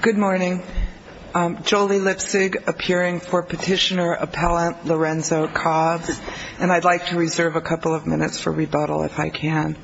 Good morning. Jolie Lipsig, appearing for Petitioner Appellant Lorenzo Cobbs, and I'd like to reserve a couple of minutes for rebuttal if I can.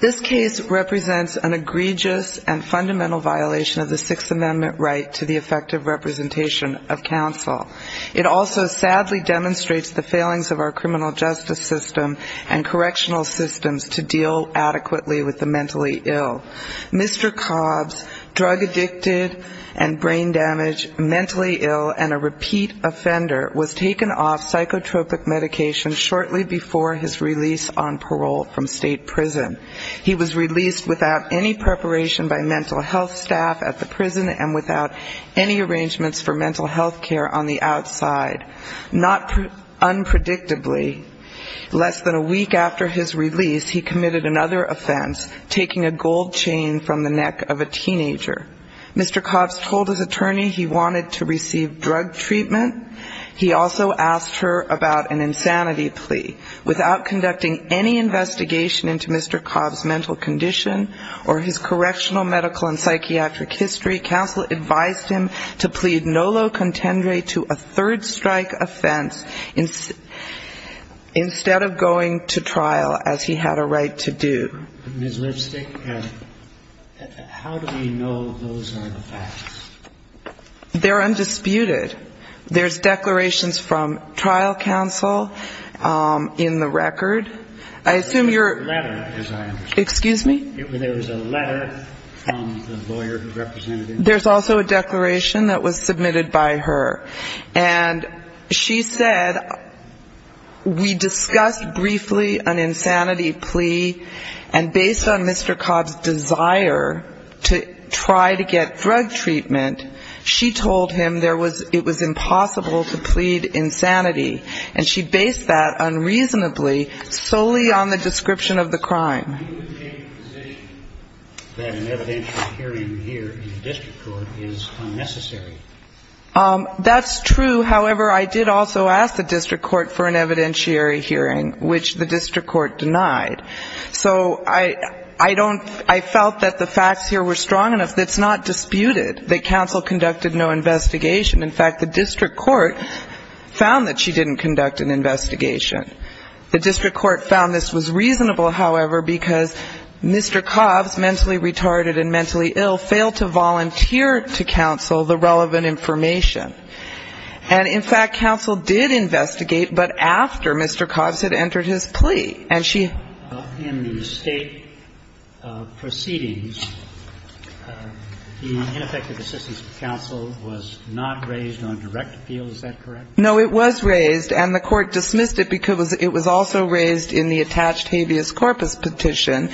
This case represents an egregious and fundamental violation of the Sixth Amendment right to the effective representation of counsel. It also sadly demonstrates the failings of our criminal justice system and correctional systems to deal adequately with the mentally ill. Mr. Cobbs, drug addicted and brain damaged, mentally ill and a repeat offender, was taken off psychotropic medication shortly before his release on parole from state prison. He was released without any preparation by mental health staff at the prison and without any arrangements for mental health care on the outside. Not unpredictably, less than a week after his release, he committed another offense, taking a gold chain from the neck of a teenager. Mr. Cobbs told his attorney he wanted to receive drug treatment. He also asked her about an insanity plea. Without conducting any investigation into Mr. Cobbs' mental condition or his correctional, medical and psychiatric history, counsel advised him to plead nolo contendere to a third strike offense instead of going to trial, as he had a right to do. Ms. Lipstick, how do we know those are the facts? They're undisputed. There's declarations from trial counsel in the record. I assume you're There's a letter, as I understand it. Excuse me? There was a letter from the lawyer who represented him. There's also a declaration that was submitted by her. And she said, we discussed briefly an insanity plea, and based on Mr. Cobbs' desire to try to get drug treatment, she told him it was impossible to plead insanity. And she based that unreasonably solely on the description of the crime. Do you take the position that an evidentiary hearing here in the district court is unnecessary? That's true. However, I did also ask the district court for an evidentiary hearing, which the district court denied. So I felt that the facts here were strong enough that it's not disputed that counsel conducted no investigation. In fact, the district court found that she didn't conduct an investigation. The district court found this was reasonable, however, because Mr. Cobbs, mentally retarded and mentally ill, failed to volunteer to counsel the relevant information. And, in fact, counsel did investigate, but after Mr. Cobbs had entered his plea. And she In the State proceedings, the ineffective assistance of counsel was not raised on direct appeal. Is that correct? No, it was raised, and the Court dismissed it because it was also raised in the attached habeas corpus petition.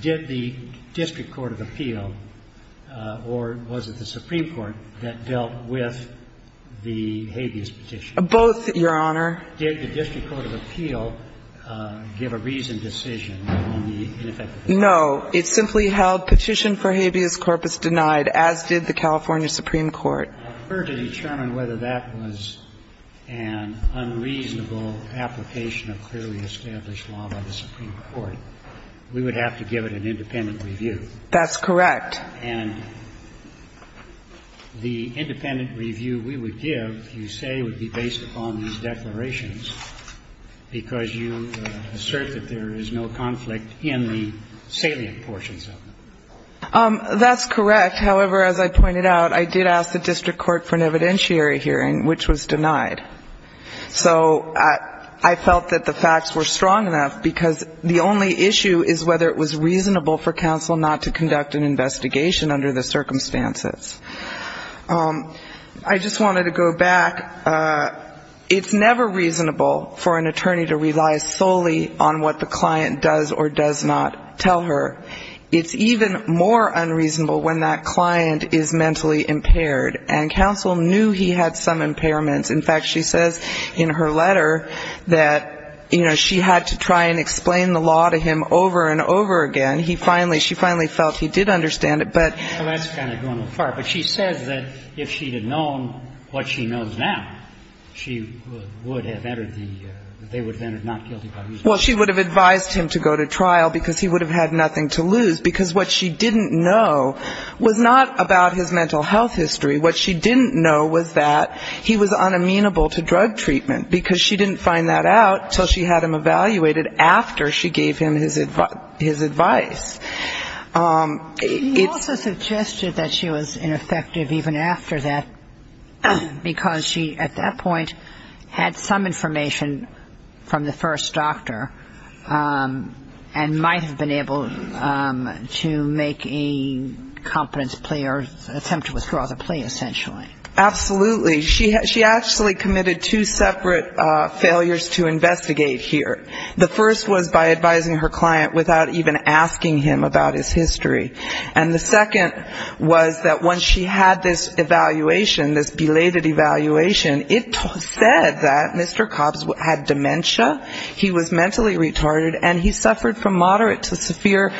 Did the district court of appeal, or was it the Supreme Court, that dealt with the habeas petition? Both, Your Honor. Did the district court of appeal give a reasoned decision on the ineffective assistance? No. It simply held petition for habeas corpus denied, as did the California Supreme Court. I prefer to determine whether that was an unreasonable application of clearly established law by the Supreme Court. We would have to give it an independent review. That's correct. And the independent review we would give, you say, would be based upon these declarations, because you assert that there is no conflict in the salient portions of them. That's correct. However, as I pointed out, I did ask the district court for an evidentiary hearing, which was denied. So I felt that the facts were strong enough, because the only issue is whether it was reasonable for counsel not to conduct an investigation under the circumstances. I just wanted to go back. It's never reasonable for an attorney to rely solely on what the client does or does not tell her. It's even more unreasonable when that client is mentally impaired, and counsel knew he had some impairments. In fact, she says in her letter that, you know, she had to try and explain the law to him over and over again. And he finally, she finally felt he did understand it, but... Well, that's kind of going too far. But she says that if she had known what she knows now, she would have entered the, they would have entered not guilty by reason. Well, she would have advised him to go to trial because he would have had nothing to lose, because what she didn't know was not about his mental health history. What she didn't know was that he was unamenable to drug treatment, because she didn't find that out until she had him evaluated after she gave him his advice. You also suggested that she was ineffective even after that, because she at that point had some information from the first doctor and might have been able to make a competence play or attempt to withdraw the play essentially. Absolutely. She actually committed two separate failures to investigate here. The first was by advising her client without even asking him about his history. And the second was that once she had this evaluation, this belated evaluation, it said that Mr. Cobbs had dementia, he was mentally retarded, and he suffered from moderate to severe...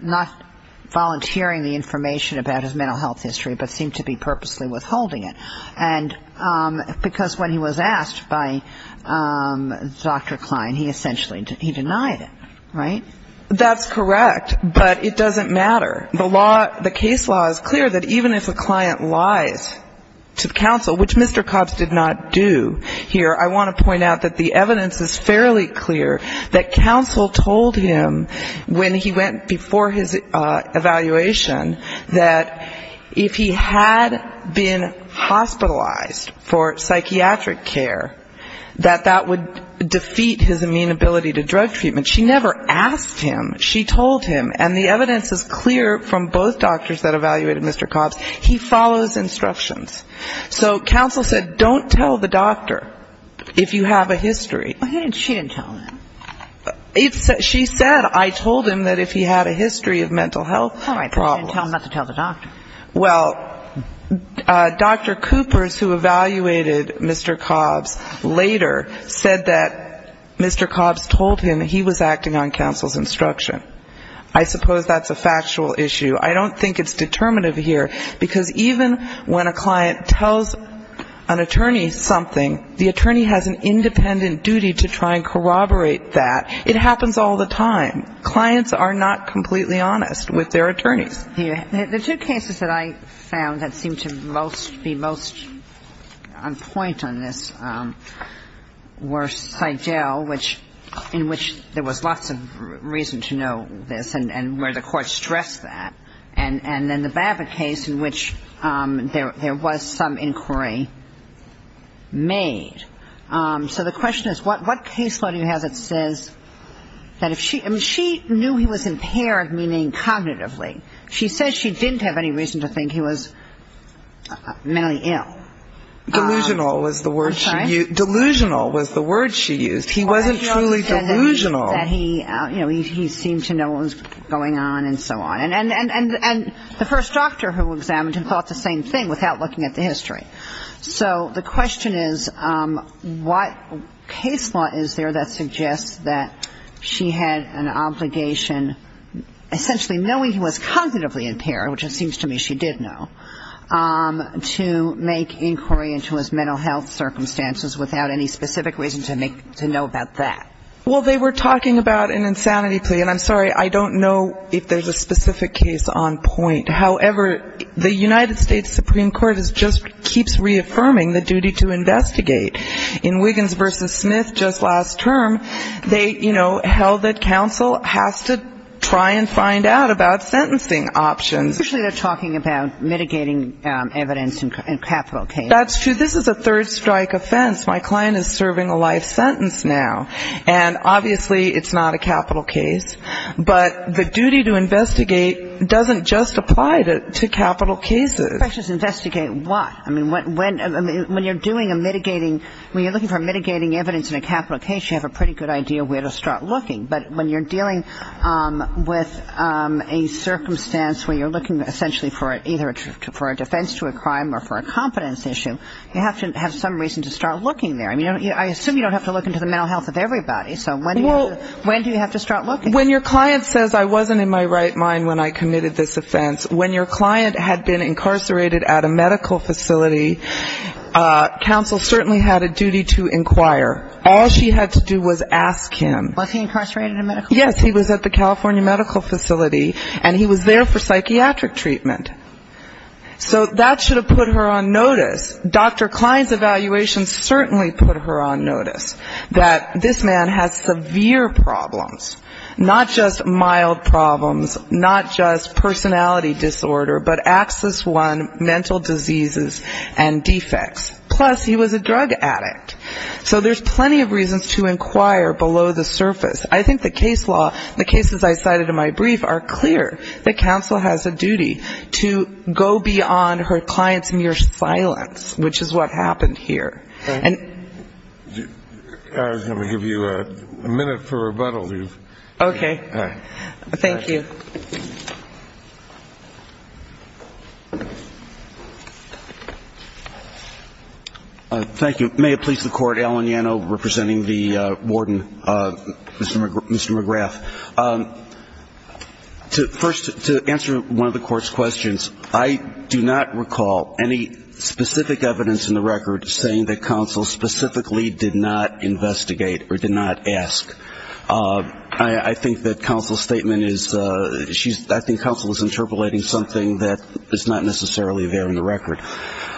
not volunteering the information about his mental health history, but seemed to be purposely withholding it. And because when he was asked by Dr. Klein, he essentially, he denied it, right? That's correct. But it doesn't matter. The case law is clear that even if a client lies to counsel, which Mr. Cobbs did not do here, I want to point out that the evidence is fairly clear that counsel told him when he went before his evaluation that if he had been hospitalized for psychiatric care, that that would defeat his amenability to drug treatment. She never asked him. She told him. And the evidence is clear from both doctors that evaluated Mr. Cobbs. He follows instructions. So counsel said don't tell the doctor if you have a history. She didn't tell him. She said I told him that if he had a history of mental health problems. All right, but she didn't tell him not to tell the doctor. Well, Dr. Coopers, who evaluated Mr. Cobbs later, said that Mr. Cobbs told him he was acting on counsel's instruction. I suppose that's a factual issue. I don't think it's determinative here, because even when a client tells an attorney something, the attorney has an independent duty to try and corroborate that. It happens all the time. Clients are not completely honest with their attorneys. The two cases that I found that seemed to most be most on point on this were Seidel, in which there was lots of reason to know this and where the court stressed that, and then the Babbitt case in which there was some inquiry made. So the question is what case law do you have that says that if she ñ I mean, she knew he was impaired meaning cognitively. She says she didn't have any reason to think he was mentally ill. I'm sorry? He wasn't truly delusional. He seemed to know what was going on and so on. And the first doctor who examined him thought the same thing without looking at the history. So the question is what case law is there that suggests that she had an obligation, essentially knowing he was cognitively impaired, which it seems to me she did know, to make inquiry into his mental health circumstances without any specific reason to know about that. Well, they were talking about an insanity plea, and I'm sorry, I don't know if there's a specific case on point. However, the United States Supreme Court just keeps reaffirming the duty to investigate. In Wiggins v. Smith just last term, they, you know, held that counsel has to try and find out about sentencing options. Usually they're talking about mitigating evidence in capital cases. That's true. This is a third strike offense. My client is serving a life sentence now, and obviously it's not a capital case. But the duty to investigate doesn't just apply to capital cases. The question is investigate what? I mean, when you're doing a mitigating, when you're looking for mitigating evidence in a capital case, you have a pretty good idea where to start looking. But when you're dealing with a circumstance where you're looking essentially for either a defense to a crime or for a competence issue, you have to have some reason to start looking there. I mean, I assume you don't have to look into the mental health of everybody. So when do you have to start looking? When your client says I wasn't in my right mind when I committed this offense, when your client had been incarcerated at a medical facility, counsel certainly had a duty to inquire. All she had to do was ask him. Was he incarcerated at a medical facility? Yes, he was at the California medical facility, and he was there for psychiatric treatment. So that should have put her on notice. Dr. Klein's evaluation certainly put her on notice, that this man has severe problems, not just mild problems, not just personality disorder, but access one mental diseases and defects. Plus, he was a drug addict. So there's plenty of reasons to inquire below the surface. I think the case law, the cases I cited in my brief are clear that counsel has a duty to go beyond her client's mere silence, which is what happened here. And we'll give you a minute for rebuttal. Okay. All right. Thank you. Thank you. May it please the Court, Alan Yano representing the warden, Mr. McGrath. First, to answer one of the Court's questions, I do not recall any specific evidence in the record saying that counsel specifically did not investigate or did not ask. I think that counsel's statement is, I think counsel is interpolating something that is not necessarily there in the record.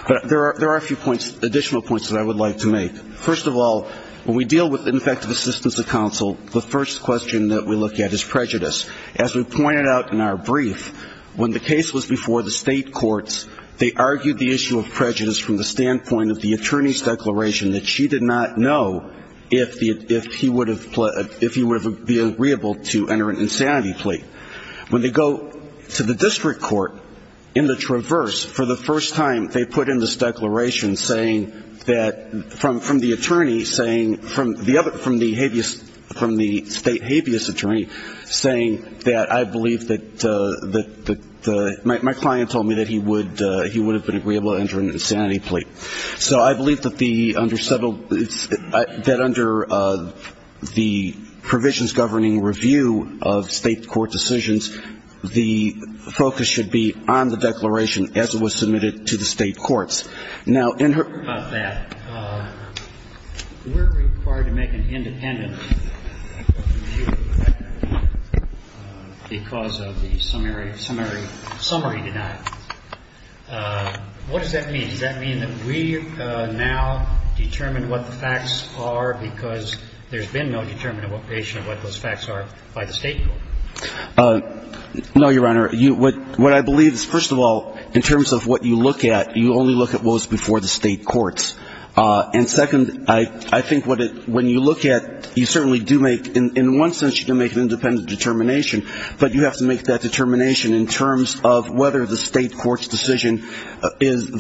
But there are a few additional points that I would like to make. First of all, when we deal with ineffective assistance of counsel, the first question that we look at is prejudice. As we pointed out in our brief, when the case was before the state courts, they argued the issue of prejudice from the standpoint of the attorney's declaration, that she did not know if he would have been agreeable to enter an insanity plea. When they go to the district court in the traverse for the first time, they put in this declaration saying that from the attorney saying, from the state habeas attorney, saying that I believe that my client told me that he would have been agreeable to enter an insanity plea. So I believe that the under settled, that under the provisions governing review of state court decisions, the focus should be on the declaration as it was submitted to the state courts. Now, in her. We're required to make an independent review because of the summary denied. What does that mean? Does that mean that we now determine what the facts are because there's been no determination of what those facts are by the state court? No, Your Honor. What I believe is, first of all, in terms of what you look at, you only look at what was before the state courts. And second, I think when you look at, you certainly do make, in one sense, you can make an independent determination, but you have to make that determination in terms of whether the state court's decision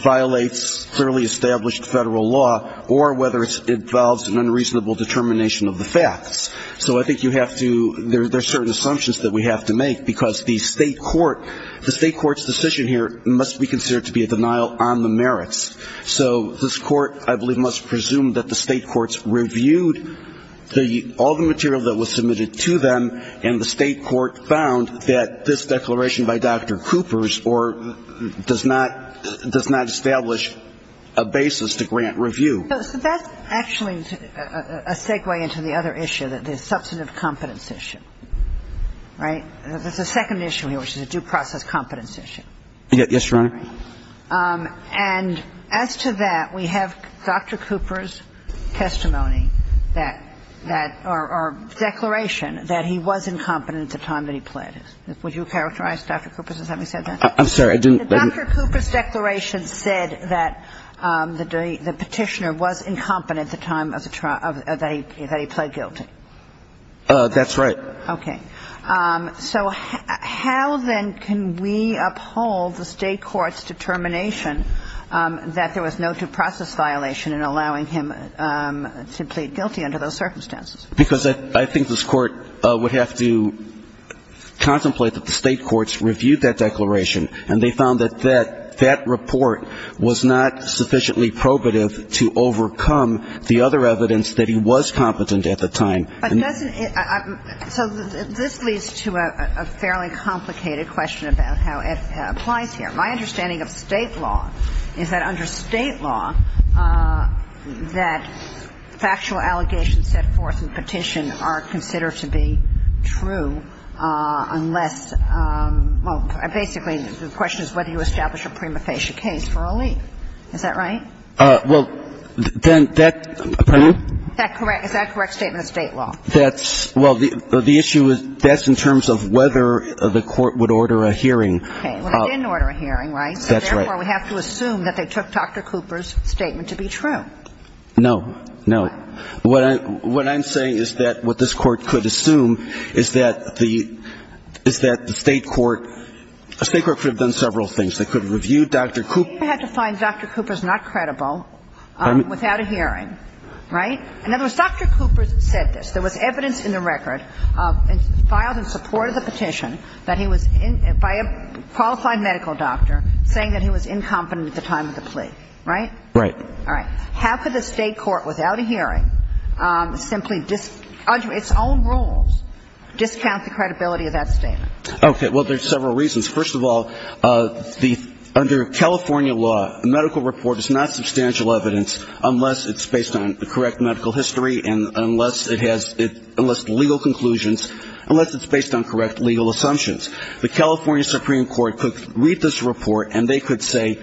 violates fairly established federal law or whether it involves an unreasonable determination of the facts. So I think you have to, there are certain assumptions that we have to make because the state court, the state court's decision here must be considered to be a denial on the merits. So this Court, I believe, must presume that the state courts reviewed the, all the material that was submitted to them, and the state court found that this declaration by Dr. Cooper's or does not, does not establish a basis to grant review. So that's actually a segue into the other issue, the substantive competence issue. Right? There's a second issue here, which is a due process competence issue. Yes, Your Honor. And as to that, we have Dr. Cooper's testimony that, or declaration that he was incompetent at the time that he pled. Would you characterize Dr. Cooper as having said that? I'm sorry, I didn't. Dr. Cooper's declaration said that the Petitioner was incompetent at the time that he pled guilty. That's right. Okay. So how then can we uphold the state court's determination that there was no due process violation in allowing him to plead guilty under those circumstances? Because I think this Court would have to contemplate that the state courts reviewed that declaration and they found that that report was not sufficiently probative to overcome the other evidence that he was competent at the time. But doesn't it – so this leads to a fairly complicated question about how it applies here. My understanding of State law is that under State law that factual allegations set forth in Petition are considered to be true unless – well, basically, the question is whether you establish a prima facie case for a lien. Is that right? Well, then that – pardon me? Is that correct statement of State law? That's – well, the issue is that's in terms of whether the Court would order a hearing. Okay. Well, it didn't order a hearing, right? That's right. So therefore, we have to assume that they took Dr. Cooper's statement to be true. No. No. What I'm saying is that what this Court could assume is that the – is that the state court – the state court could have done several things. They could have reviewed Dr. Cooper. They had to find Dr. Cooper's not credible without a hearing, right? In other words, Dr. Cooper said this. There was evidence in the record filed in support of the petition that he was – by a qualified medical doctor saying that he was incompetent at the time of the plea, right? Right. All right. How could the state court without a hearing simply – under its own rules discount the credibility of that statement? Okay. Well, there's several reasons. First of all, the – under California law, a medical report is not substantial evidence unless it's based on correct medical history and unless it has – unless legal conclusions – unless it's based on correct legal assumptions. The California Supreme Court could read this report and they could say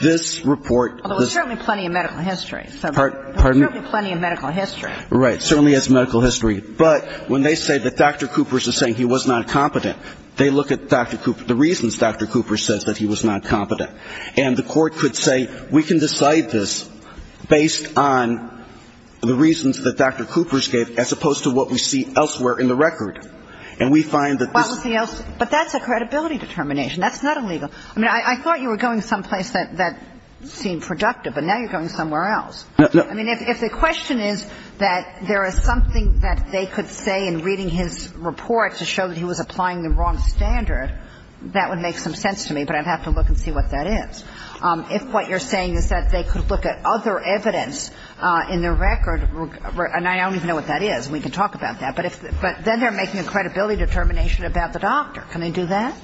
this report – Well, there was certainly plenty of medical history. Pardon? There was certainly plenty of medical history. Right. Certainly has medical history. But when they say that Dr. Cooper is saying he was not competent, they look at Dr. Cooper – the reasons Dr. Cooper says that he was not competent. And the court could say, we can decide this based on the reasons that Dr. Cooper gave as opposed to what we see elsewhere in the record. And we find that this – But that's a credibility determination. That's not illegal. I mean, I thought you were going someplace that seemed productive, but now you're going somewhere else. No. I mean, if the question is that there is something that they could say in reading his report to show that he was applying the wrong standard, that would make some sense to me. But I'd have to look and see what that is. If what you're saying is that they could look at other evidence in the record – and I don't even know what that is. We can talk about that. But then they're making a credibility determination about the doctor. Can they do that?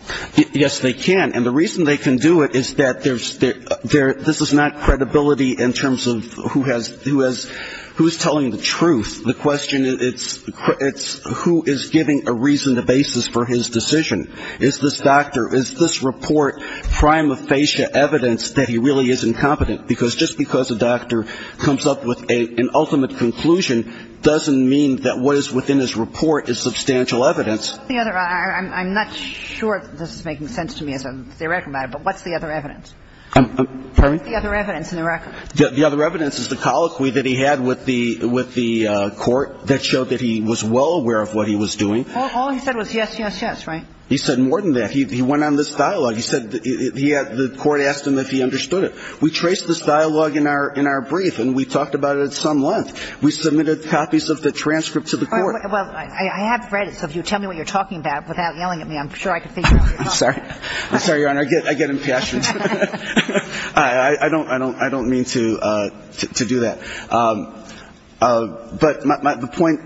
Yes, they can. And the reason they can do it is that there's – this is not credibility in terms of who has – who is telling the truth. The question is who is giving a reason, a basis for his decision. Is this doctor – is this report prima facie evidence that he really is incompetent? Because just because a doctor comes up with an ultimate conclusion doesn't mean that what is within his report is substantial evidence. I'm not sure if this is making sense to me as a theoretical matter, but what's the other evidence? Pardon me? What's the other evidence in the record? The other evidence is the colloquy that he had with the court that showed that he was well aware of what he was doing. All he said was yes, yes, yes, right? He said more than that. He went on this dialogue. He said he had – the court asked him if he understood it. We traced this dialogue in our brief, and we talked about it at some length. We submitted copies of the transcript to the court. Well, I have read it, so if you tell me what you're talking about without yelling at me, I'm sure I can figure it out. I'm sorry. I'm sorry, Your Honor. I get impassioned. I don't mean to do that. But the point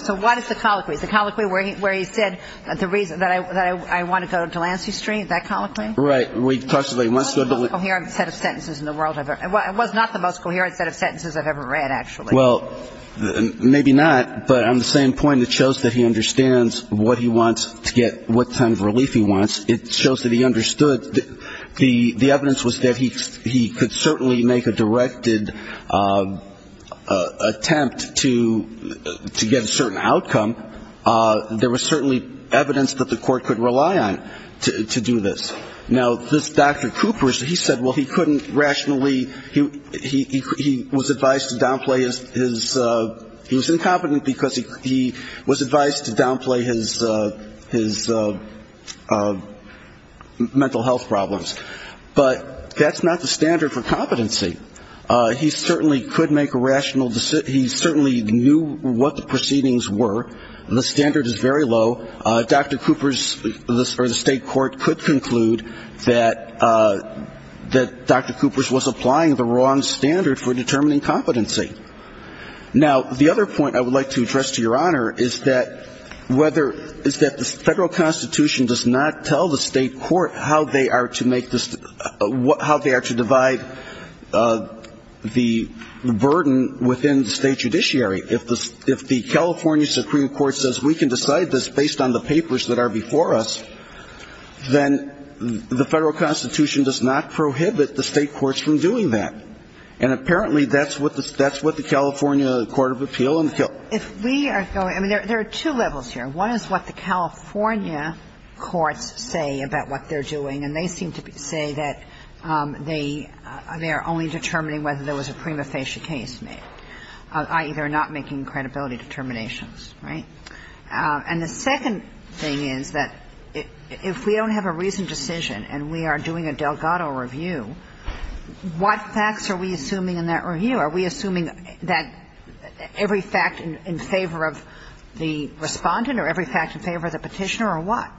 – So what is the colloquy? Is it the colloquy where he said that I want to go to Delancey Street? That colloquy? Right. It was the most coherent set of sentences in the world. It was not the most coherent set of sentences I've ever read, actually. Well, maybe not, but on the same point, it shows that he understands what he wants to get, what kind of relief he wants. It shows that he understood. The evidence was that he could certainly make a directed attempt to get a certain outcome. There was certainly evidence that the court could rely on to do this. Now, this Dr. Cooper, he said, well, he couldn't rationally – he was advised to downplay his – he was incompetent because he was advised to downplay his mental health problems. But that's not the standard for competency. He certainly could make a rational – he certainly knew what the proceedings were. The standard is very low. Dr. Cooper's – or the state court could conclude that Dr. Cooper's was applying the wrong standard for Now, the other point I would like to address to Your Honor is that whether – is that the federal constitution does not tell the state court how they are to make – how they are to divide the burden within the state judiciary. If the California Supreme Court says we can decide this based on the papers that are before us, then the federal constitution does not prohibit the state courts from doing that. And apparently that's what the – that's what the California court of appeal and the – If we are going – I mean, there are two levels here. One is what the California courts say about what they're doing. And they seem to say that they are only determining whether there was a prima facie case made, i.e., they're not making credibility determinations. Right? And the second thing is that if we don't have a reasoned decision and we are doing a Delgado review, what facts are we assuming in that review? Are we assuming that every fact in favor of the Respondent or every fact in favor of the Petitioner or what?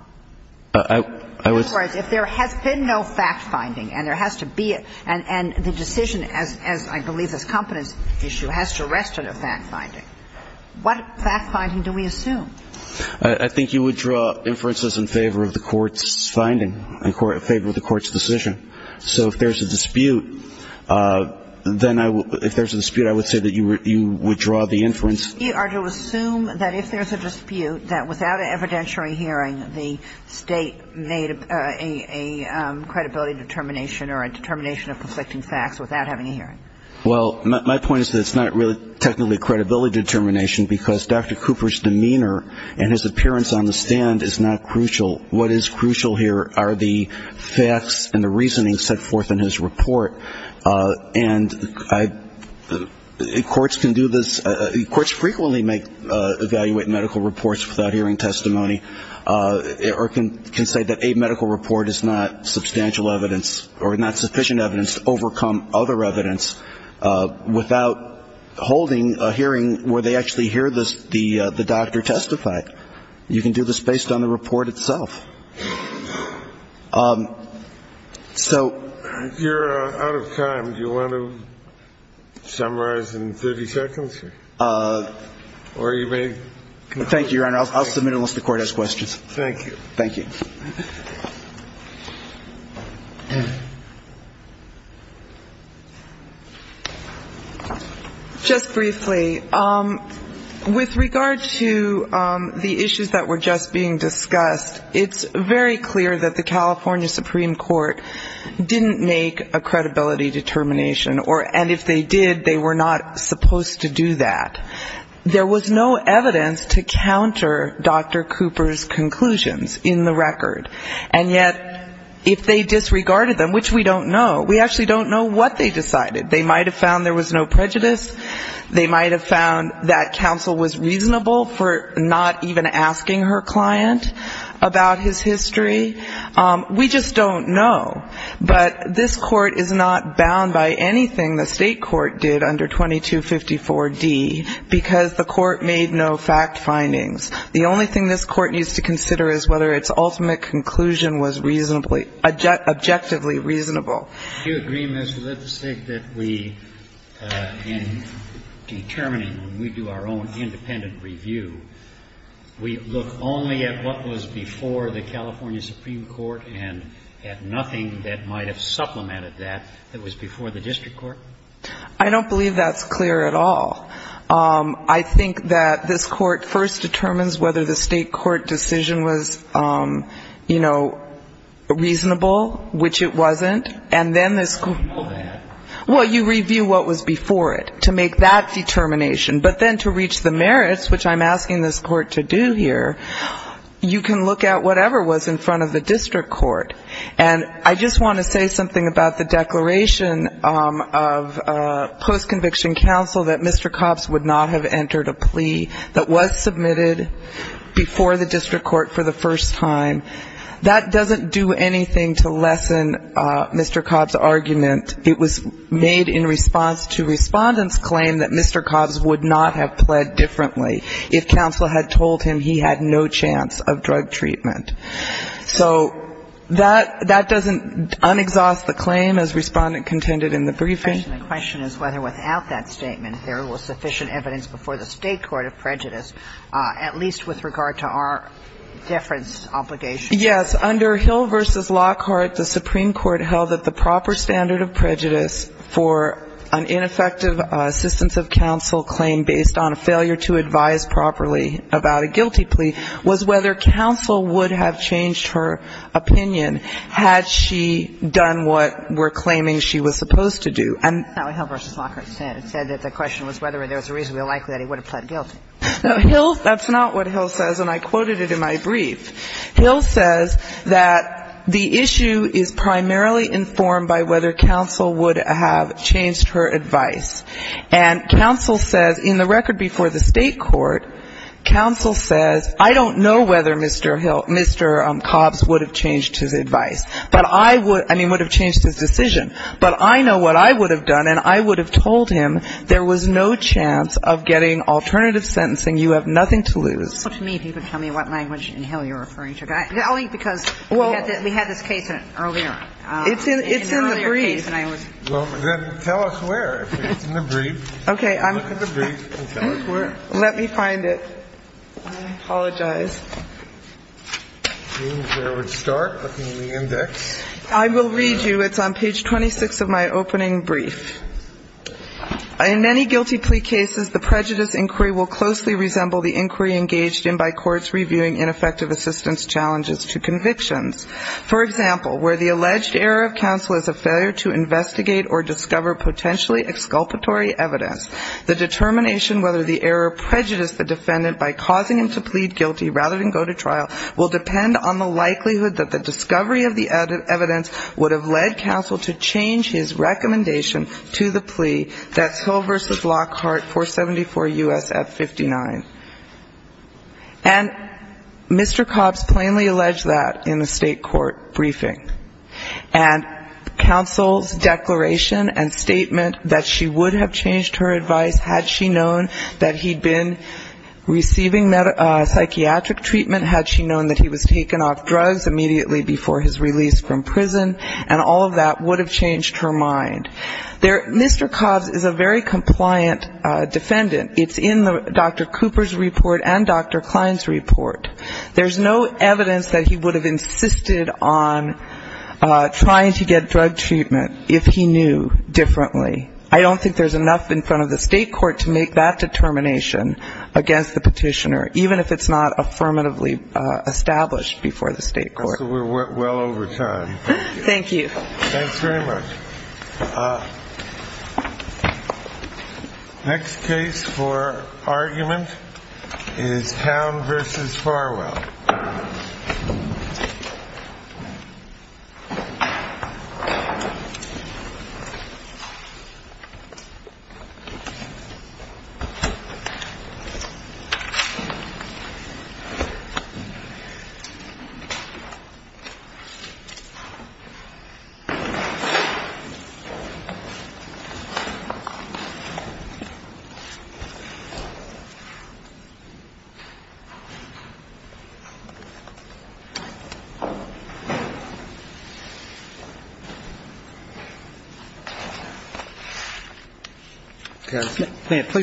I was – In other words, if there has been no fact-finding and there has to be a – and the decision, as I believe this competence issue, has to rest on a fact-finding, what fact-finding do we assume? I think you would draw inferences in favor of the court's finding, in favor of the court's decision. So if there's a dispute, then I would – if there's a dispute, I would say that you would draw the inference. You are to assume that if there's a dispute, that without an evidentiary hearing, the State made a credibility determination or a determination of conflicting facts without having a hearing. Well, my point is that it's not really technically a credibility determination, because Dr. Cooper's demeanor and his appearance on the stand is not crucial. What is crucial here are the facts and the reasoning set forth in his report. And courts can do this – courts frequently evaluate medical reports without hearing testimony or can say that a medical report is not substantial evidence or not sufficient evidence to overcome other evidence without holding a hearing where they actually hear the doctor testify. You can do this based on the report itself. So – If you're out of time, do you want to summarize in 30 seconds? Or you may – Thank you, Your Honor. I'll submit it unless the court has questions. Thank you. Thank you. Just briefly, with regard to the issues that were just being discussed, it's very clear that the California Supreme Court didn't make a credibility determination, and if they did, they were not supposed to do that. There was no evidence to counter Dr. Cooper's conclusions in the record. And yet, if they disregarded them, which we don't know, we actually don't know what they decided. They might have found there was no prejudice. They might have found that counsel was reasonable for not even asking her client about his history. We just don't know. But this Court is not bound by anything the State court did under 2254d because the court made no fact findings. The only thing this Court needs to consider is whether its ultimate conclusion was reasonably – objectively reasonable. Do you agree, Ms. Lipsick, that we, in determining, when we do our own independent review, we look only at what was before the California Supreme Court and at nothing that might have supplemented that that was before the district court? I don't believe that's clear at all. I think that this Court first determines whether the State court decision was, you know, reasonable, which it wasn't, and then this Court – Well, you know that. Well, you review what was before it to make that determination. But then to reach the merits, which I'm asking this Court to do here, you can look at whatever was in front of the district court. And I just want to say something about the declaration of post-conviction counsel that Mr. Cobbs would not have entered a plea that was submitted before the district court for the first time. That doesn't do anything to lessen Mr. Cobb's argument. It was made in response to Respondent's claim that Mr. Cobbs would not have pled differently if counsel had told him he had no chance of drug treatment. So that doesn't un-exhaust the claim, as Respondent contended in the briefing. The question is whether without that statement there was sufficient evidence before the State court of prejudice, at least with regard to our deference obligations. Yes. Under Hill v. Lockhart, the Supreme Court held that the proper standard of prejudice for an ineffective assistance of counsel claim based on a failure to advise properly about a guilty plea was whether counsel would have changed her opinion had she done what we're claiming she was supposed to do. And that's not what Hill v. Lockhart said. It said that the question was whether there was a reason we were likely that he would have pled guilty. Now, Hill, that's not what Hill says, and I quoted it in my brief. Hill says that the issue is primarily informed by whether counsel would have changed her advice. And counsel says in the record before the State court, counsel says I don't know whether Mr. Hill, Mr. Cobbs would have changed his advice. But I would, I mean, would have changed his decision. But I know what I would have done, and I would have told him there was no chance of getting alternative sentencing. You have nothing to lose. So to me, people tell me what language in Hill you're referring to. Only because we had this case earlier. It's in the brief. Well, then tell us where. It's in the brief. Okay. Look at the brief and tell us where. Let me find it. I apologize. It seems I would start looking in the index. I will read you. It's on page 26 of my opening brief. In many guilty plea cases, the prejudice inquiry will closely resemble the inquiry engaged in by courts reviewing ineffective assistance challenges to convictions. For example, where the alleged error of counsel is a failure to investigate or discover potentially exculpatory evidence, the determination whether the error prejudiced the defendant by causing him to plead guilty rather than go to trial will depend on the likelihood that the discovery of the evidence would have led to the plea, that's Hill v. Lockhart, 474 U.S.F. 59. And Mr. Cobbs plainly alleged that in a state court briefing. And counsel's declaration and statement that she would have changed her advice had she known that he'd been receiving psychiatric treatment, had she known that he was taken off drugs immediately before his release from prison, and all of that would have changed her mind. Mr. Cobbs is a very compliant defendant. It's in Dr. Cooper's report and Dr. Klein's report. There's no evidence that he would have insisted on trying to get drug treatment if he knew differently. I don't think there's enough in front of the state court to make that determination against the petitioner, even if it's not affirmatively established before the state court. So we're well over time. Thank you. Thanks very much. Next case for argument is Town v. Farwell. Please stand by.